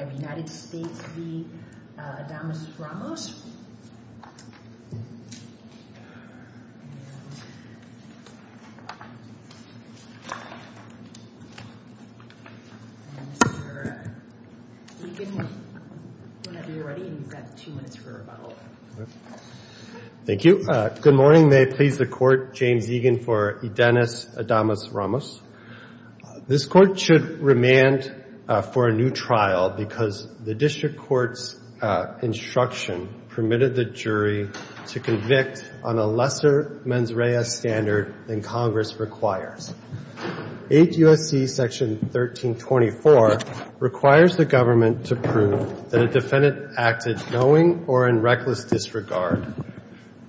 Mr. Egan, whenever you're ready, you've got two minutes for a follow-up. Thank you. Good morning. May it please the Court, James Egan v. Adames-Ramos. This Court should remand for a new trial because the district court's instruction permitted the jury to convict on a lesser mens rea standard than Congress requires. 8 U.S.C. § 1324 requires the government to prove that a defendant acted knowing or in reckless disregard.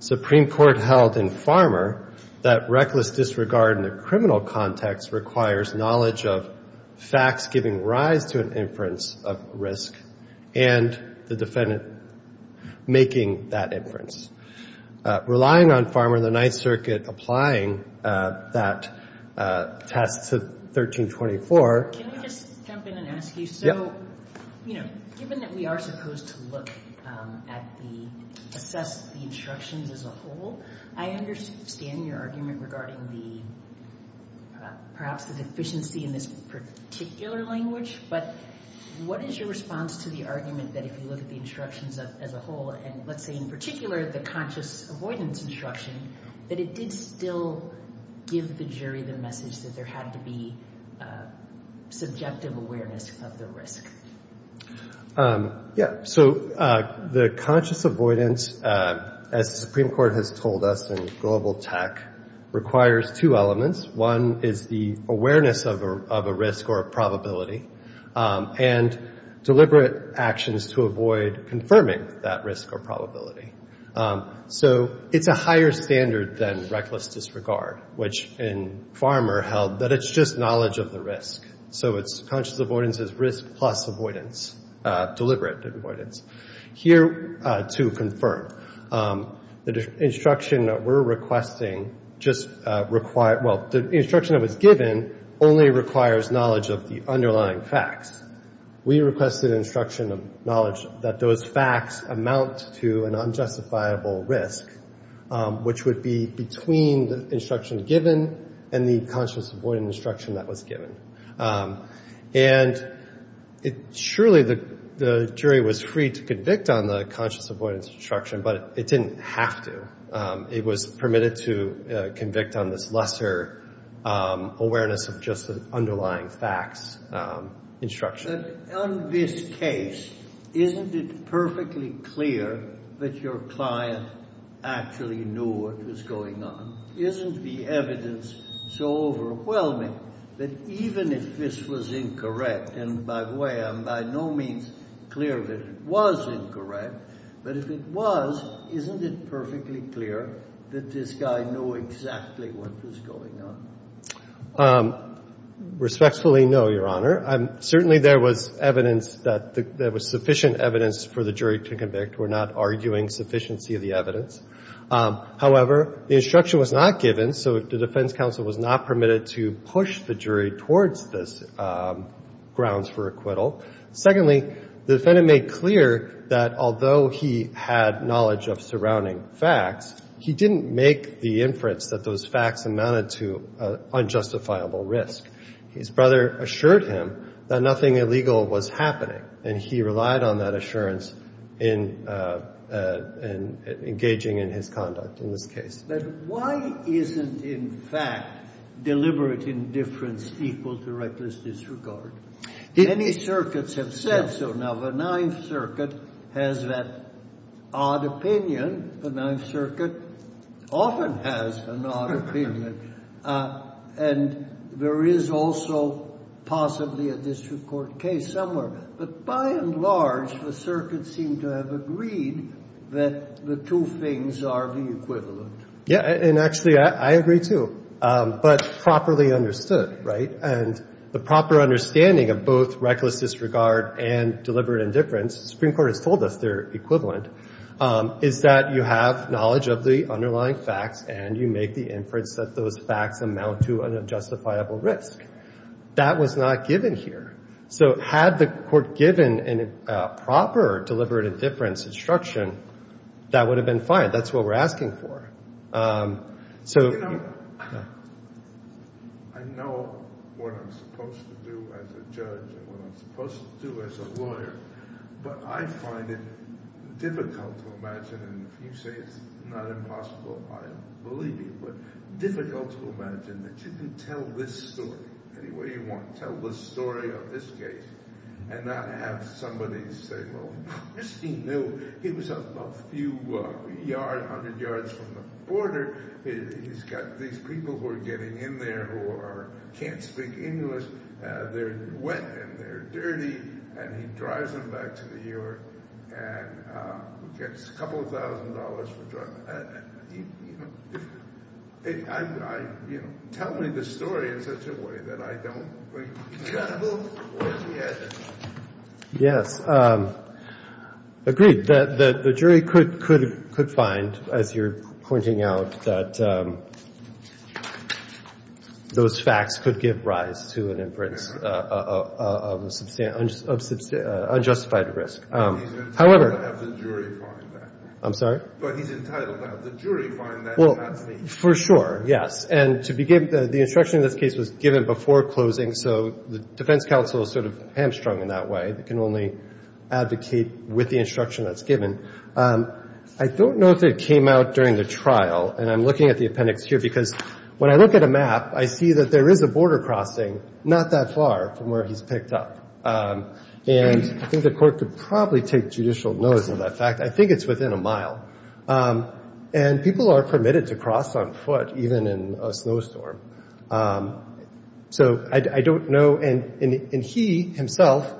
Supreme Court held in Farmer that reckless disregard in a criminal context requires knowledge of facts giving rise to an inference of risk and the defendant making that inference. Relying on Farmer, the Ninth Circuit applying that test to 1324. Can I just jump in and ask you, so, you know, given that we are supposed to look at the assess the instructions as a whole, I understand your argument regarding the perhaps the deficiency in this particular language, but what is your response to the argument that if you look at the instructions as a whole, and let's say in particular the conscious avoidance instruction, that it did still give the jury the message that there had to be subjective awareness of the risk? Yeah. So the conscious avoidance, as the Supreme Court has told us in global tech, requires two elements. One is the awareness of a risk or a probability and deliberate actions to avoid confirming that risk or probability. So it's a higher standard than reckless disregard, which in Farmer held that it's just knowledge of the risk. So it's conscious avoidance is risk plus avoidance, deliberate avoidance. Here to confirm, the instruction that we're requesting just requires, well, the instruction that was given only requires knowledge of the underlying facts. We requested instruction of knowledge that those facts amount to an unjustifiable risk, which would be between the instruction given and the conscious avoidance instruction that was given. And surely the jury was free to convict on the conscious avoidance instruction, but it didn't have to. It was permitted to convict on this lesser awareness of just the underlying facts instruction. But on this case, isn't it perfectly clear that your client actually knew what was going on? Isn't the evidence so overwhelming that even if this was incorrect, and by the way, I'm no means clear that it was incorrect, but if it was, isn't it perfectly clear that this guy knew exactly what was going on? Respectfully, no, Your Honor. Certainly there was evidence that there was sufficient evidence for the jury to convict. We're not arguing sufficiency of the evidence. However, the instruction was not given, so the defense counsel was not permitted to push the jury towards this grounds for acquittal. Secondly, the defendant made clear that although he had knowledge of surrounding facts, he didn't make the inference that those facts amounted to unjustifiable risk. His brother assured him that nothing illegal was happening, and he relied on that assurance in engaging in his conduct in this case. But why isn't, in fact, deliberate indifference equal to reckless disregard? Many circuits have said so. Now, the Ninth Circuit has that odd opinion. The Ninth Circuit often has an odd opinion, and there is also possibly a disrecord case somewhere. But by and large, the circuits seem to have agreed that the two things are the same. Yeah, and actually, I agree, too, but properly understood, right? And the proper understanding of both reckless disregard and deliberate indifference — the Supreme Court has told us they're equivalent — is that you have knowledge of the underlying facts, and you make the inference that those facts amount to unjustifiable risk. That was not given here. So had the Court given a proper deliberate indifference instruction, that would have been fine. That's what we're asking for. You know, I know what I'm supposed to do as a judge and what I'm supposed to do as a lawyer, but I find it difficult to imagine — and if you say it's not impossible, I believe you — but difficult to imagine that you can tell this story any way you want, tell the story of this case, and not have somebody say, well, Christine knew, he was a few yards, a hundred yards from the border, he's got these people who are getting in there who can't speak English, they're wet and they're dirty, and he drives them back to New York and gets a couple of thousand dollars for driving — you know, tell me the story in such a way that I don't make it inconceivable or in the edge of my seat. Yes, agreed. The jury could find, as you're pointing out, that those facts could give rise to an inference of unjustified risk. But he's entitled to have the jury find that. I'm sorry? But he's entitled to have the jury find that, not me. Well, for sure, yes. And to begin, the instruction in this case was given before closing, so the defense counsel is sort of hamstrung in that way, they can only advocate with the instruction that's given. I don't know if it came out during the trial, and I'm looking at the appendix here, because when I look at a map, I see that there is a border crossing not that far from where he's picked up. And I think the court could probably take judicial notice of that fact. I think it's within a mile. And people are permitted to cross on foot, even in a snowstorm. So I don't know. And he, himself,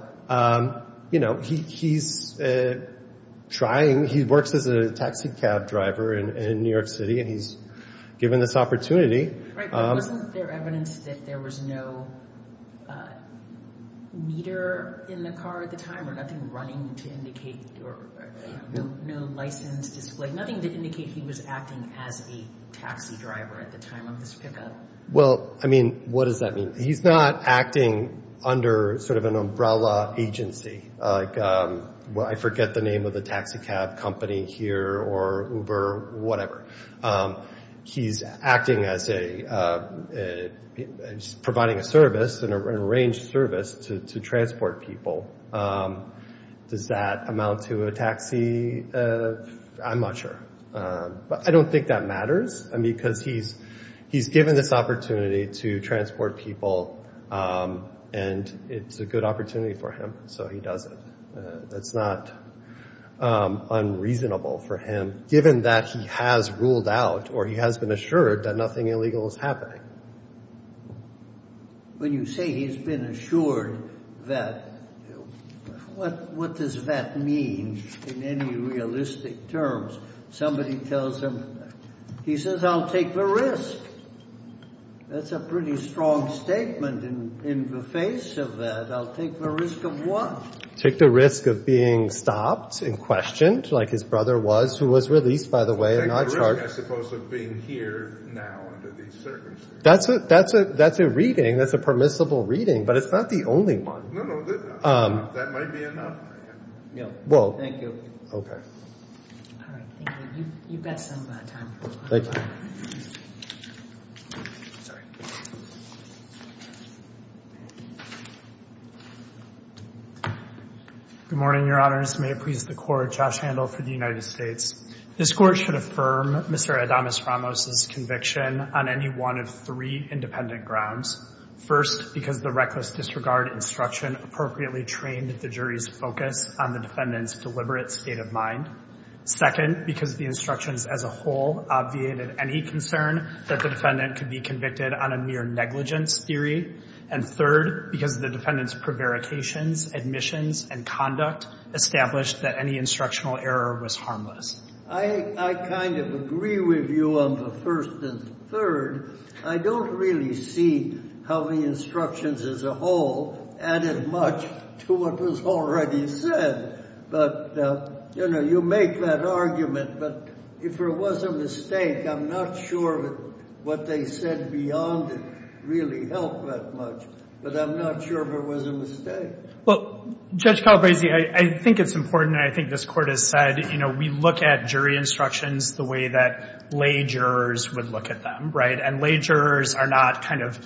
he's trying. He works as a taxi cab driver in New York City, and he's given this opportunity. Right, but wasn't there evidence that there was no meter in the car at the time, or nothing running to indicate, or no license display, nothing to indicate he was acting as a taxi driver at the time of this pickup? Well, I mean, what does that mean? He's not acting under sort of an umbrella agency. Like, I forget the name of the taxi cab company here, or Uber, whatever. He's acting as a, he's providing a service, an arranged service, to transport people. Does that amount to a taxi? I'm not sure. But I don't think that matters, because he's given this opportunity to transport people, and it's a good opportunity for him, so he does it. That's not unreasonable for him. Given that he has ruled out, or he has been assured, that nothing illegal is happening. When you say he's been assured that, what does that mean in any realistic terms? Somebody tells him, he says, I'll take the risk. That's a pretty strong statement in the face of that. I'll take the risk of what? Take the risk of being stopped and questioned, like his brother was, who was released, by the way, and not charged. I'll take the risk, as opposed to being here now, under these circumstances. That's a reading. That's a permissible reading. But it's not the only one. No, no. That might be enough. No, thank you. OK. All right, thank you. You've got some time. Thank you. Good morning, your honors. May it please the court, Josh Handel for the United States. This court should affirm Mr. Adamus Ramos' conviction on any one of three independent grounds. First, because the reckless disregard instruction appropriately trained the jury's focus on the defendant's deliberate state of mind. Second, because the instructions as a whole obviated any concern that the defendant could be convicted on a mere negligence theory. And third, because the defendant's prevarications, admissions, and conduct established that any instructional error was harmless. I kind of agree with you on the first and third. I don't really see how the instructions as a whole added much to what was already said. But you make that argument. But if there was a mistake, I'm not sure what they said beyond it really helped that much. But I'm not sure if it was a mistake. Well, Judge Calabresi, I think it's important, and I think this court has said, we look at jury instructions the way that lay jurors would look at them, right? And lay jurors are not kind of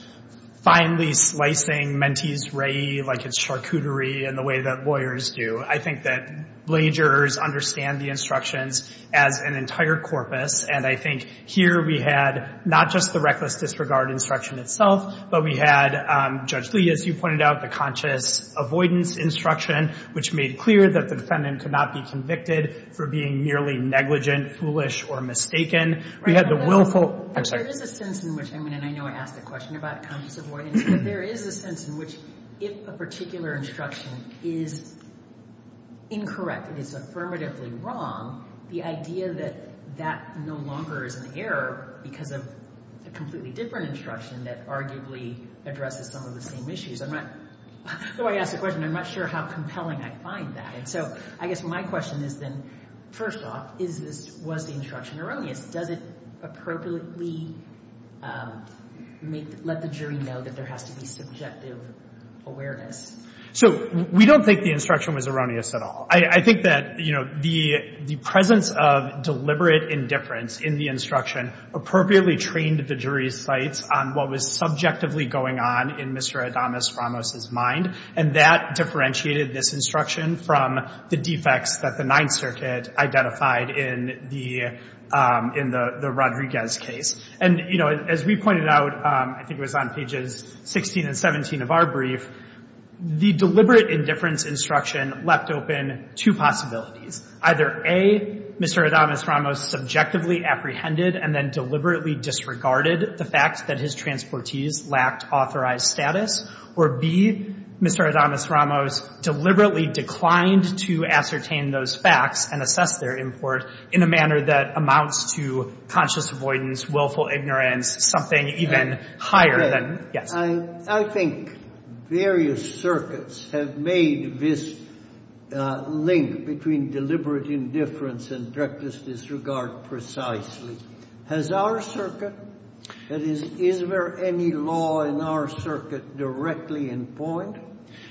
finely slicing Mentee's ray like it's charcuterie in the way that lawyers do. I think that lay jurors understand the instructions as an entire corpus. And I think here, we had not just the reckless disregard instruction itself, but we had, Judge Lee, as you pointed out, the conscious avoidance instruction, which made clear that the defendant could not be convicted for being merely negligent, foolish, or mistaken. We had the willful. Actually, there is a sense in which, and I know I asked a question about conscious avoidance, but there is a sense in which if a particular instruction is incorrect, it's affirmatively wrong, the idea that that no longer is an error because of a completely different instruction that arguably addresses some of the same issues. So I asked the question, I'm not sure how compelling I find that. And so I guess my question is then, first off, was the instruction erroneous? Does it appropriately let the jury know that there has to be subjective awareness? So we don't think the instruction was erroneous at all. I think that the presence of deliberate indifference in the instruction appropriately trained the jury's sights on what was subjectively going on in Mr. Adamus Ramos's mind. And that differentiated this instruction from the defects that the Ninth Circuit identified in the Rodriguez case. And as we pointed out, I think it was on pages 16 and 17 of our brief, the deliberate indifference instruction left open two possibilities. Either A, Mr. Adamus Ramos subjectively apprehended and then deliberately disregarded the fact that his transportees lacked authorized status, or B, Mr. Adamus Ramos deliberately declined to ascertain those facts and assess their import in a manner that amounts to conscious avoidance, willful ignorance, something even higher than yes. I think various circuits have made this link between deliberate indifference and direct disregard precisely. Has our circuit, that is, is there any law in our circuit directly in point?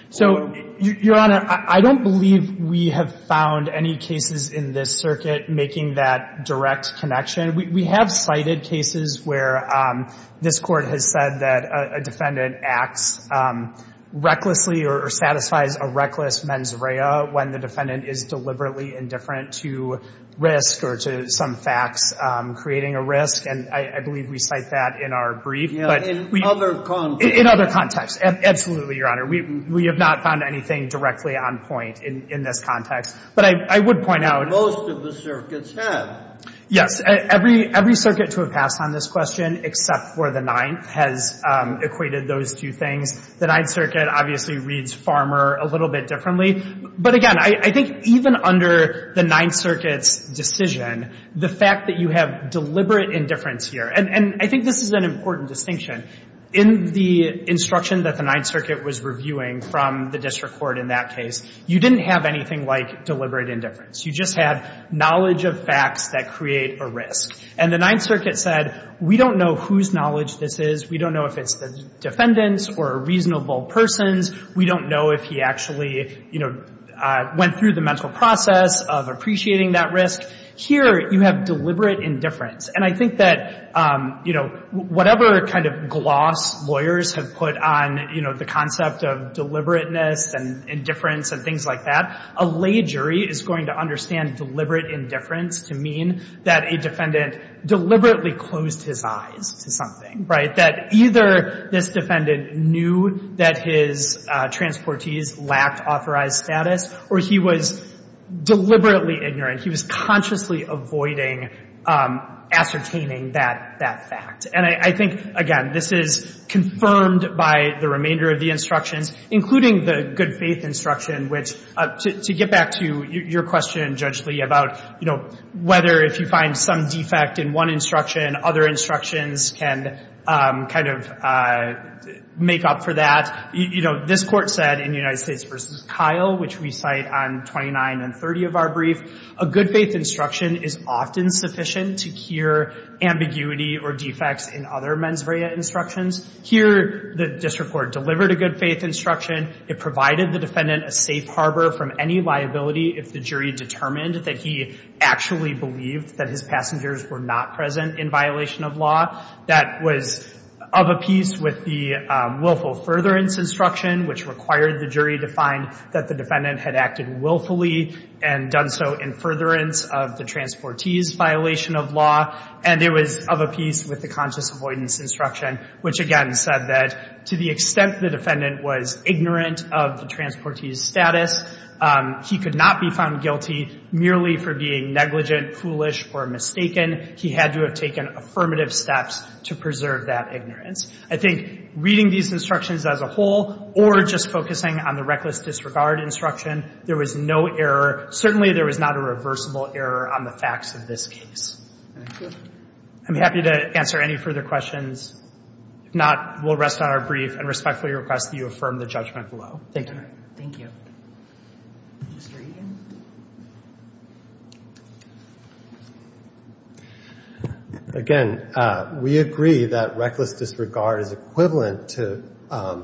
So, Your Honor, I don't believe we have found any cases in this circuit making that direct connection. We have cited cases where this court has said that a defendant acts recklessly or satisfies a reckless mens rea when the defendant is deliberately indifferent to risk or to some facts creating a risk. And I believe we cite that in our brief. But in other contexts. In other contexts, absolutely, Your Honor. We have not found anything directly on point in this context. But I would point out. Most of the circuits have. Yes, every circuit to have passed on this question, except for the Ninth, has equated those two things. The Ninth Circuit obviously reads Farmer a little bit differently. But again, I think even under the Ninth Circuit's decision, the fact that you have deliberate indifference here. And I think this is an important distinction. In the instruction that the Ninth Circuit was reviewing from the district court in that case, you didn't have anything like deliberate indifference. You just had knowledge of facts that create a risk. And the Ninth Circuit said, we don't know whose knowledge this is. We don't know if it's the defendant's or a reasonable person's. We don't know if he actually went through the mental process of appreciating that risk. Here, you have deliberate indifference. And I think that whatever kind of gloss lawyers have put on the concept of deliberateness and indifference and things like that, a lay jury is going to understand deliberate indifference to mean that a defendant deliberately closed his eyes to something, right? That either this defendant knew that his transportees lacked authorized status, or he was deliberately ignorant. He was consciously avoiding ascertaining that fact. And I think, again, this is confirmed by the remainder of the instructions, including the good faith instruction, which, to get back to your question, Judge Lee, about whether if you find some defect in one instruction, other instructions can kind of make up for that. This court said in United States v. Kyle, which we cite on 29 and 30 of our brief, a good faith instruction is often sufficient to cure ambiguity or defects in other mens rea instructions. Here, the district court delivered a good faith instruction. It provided the defendant a safe harbor from any liability if the jury determined that he actually believed that his passengers were not present in violation of law. That was of a piece with the willful furtherance instruction, which required the jury to find that the defendant had acted willfully and done so in furtherance of the transportees violation of law. And it was of a piece with the conscious avoidance instruction, which, again, said that to the extent the defendant was ignorant of the transportee's status, he could not be found guilty merely for being negligent, foolish, or mistaken. He had to have taken affirmative steps to preserve that ignorance. I think reading these instructions as a whole or just focusing on the reckless disregard instruction, there was no error. Certainly, there was not a reversible error on the facts of this case. I'm happy to answer any further questions. If not, we'll rest on our brief and respectfully request that you affirm the judgment below. Thank you. Thank you. Mr. Egan? Again, we agree that reckless disregard is equivalent to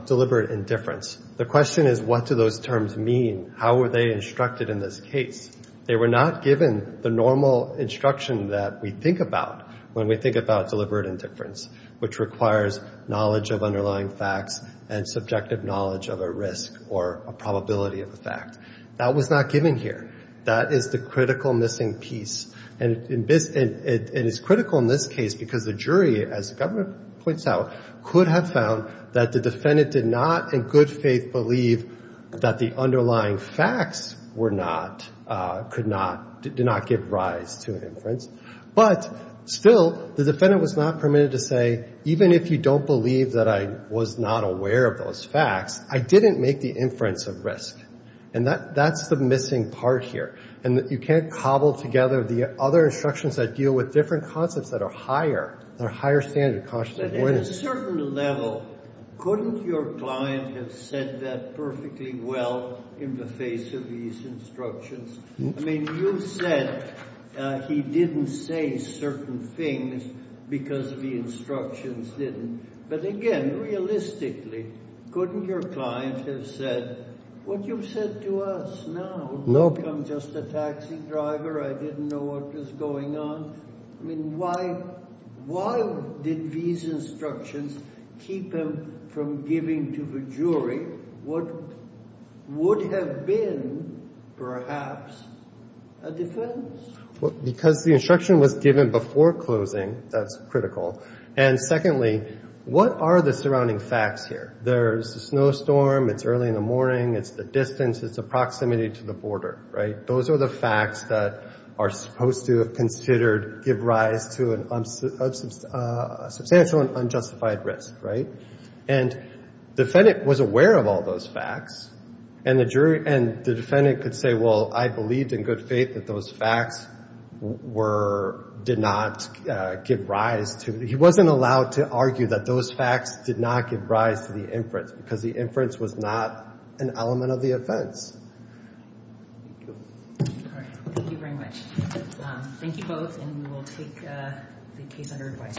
deliberate indifference. The question is, what do those terms mean? How were they instructed in this case? They were not given the normal instruction that we think about when we think about deliberate indifference, which requires knowledge of underlying facts and subjective knowledge of a risk or a probability of a fact. That was not given here. That is the critical missing piece. And it is critical in this case because the jury, as the government points out, could have found that the defendant did not, in good faith, believe that the underlying facts were not, could not, did not give rise to an inference. But still, the defendant was not permitted to say, even if you don't believe that I was not aware of those facts, I didn't make the inference of risk. And that's the missing part here. And you can't cobble together the other instructions that deal with different concepts that are higher, that are higher standard of caution and awareness. At a certain level, couldn't your client have said that perfectly well in the face of these instructions? I mean, you said he didn't say certain things because the instructions didn't. But again, realistically, couldn't your client have said what you've said to us now? Nope. I'm just a taxi driver. I didn't know what was going on. I mean, why did these instructions keep him from giving to the jury what would have been, perhaps, a defense? Because the instruction was given before closing. That's critical. And secondly, what are the surrounding facts here? There's a snowstorm. It's early in the morning. It's the distance. It's the proximity to the border, right? Those are the facts that are supposed to have considered give rise to a substantial and unjustified risk, right? And the defendant was aware of all those facts. And the defendant could say, well, I believed in good faith that those facts did not give rise to it. He wasn't allowed to argue that those facts did not give rise to the inference because the inference was not an element of the offense. All right. Thank you very much. Thank you both. And we will take the case under advice.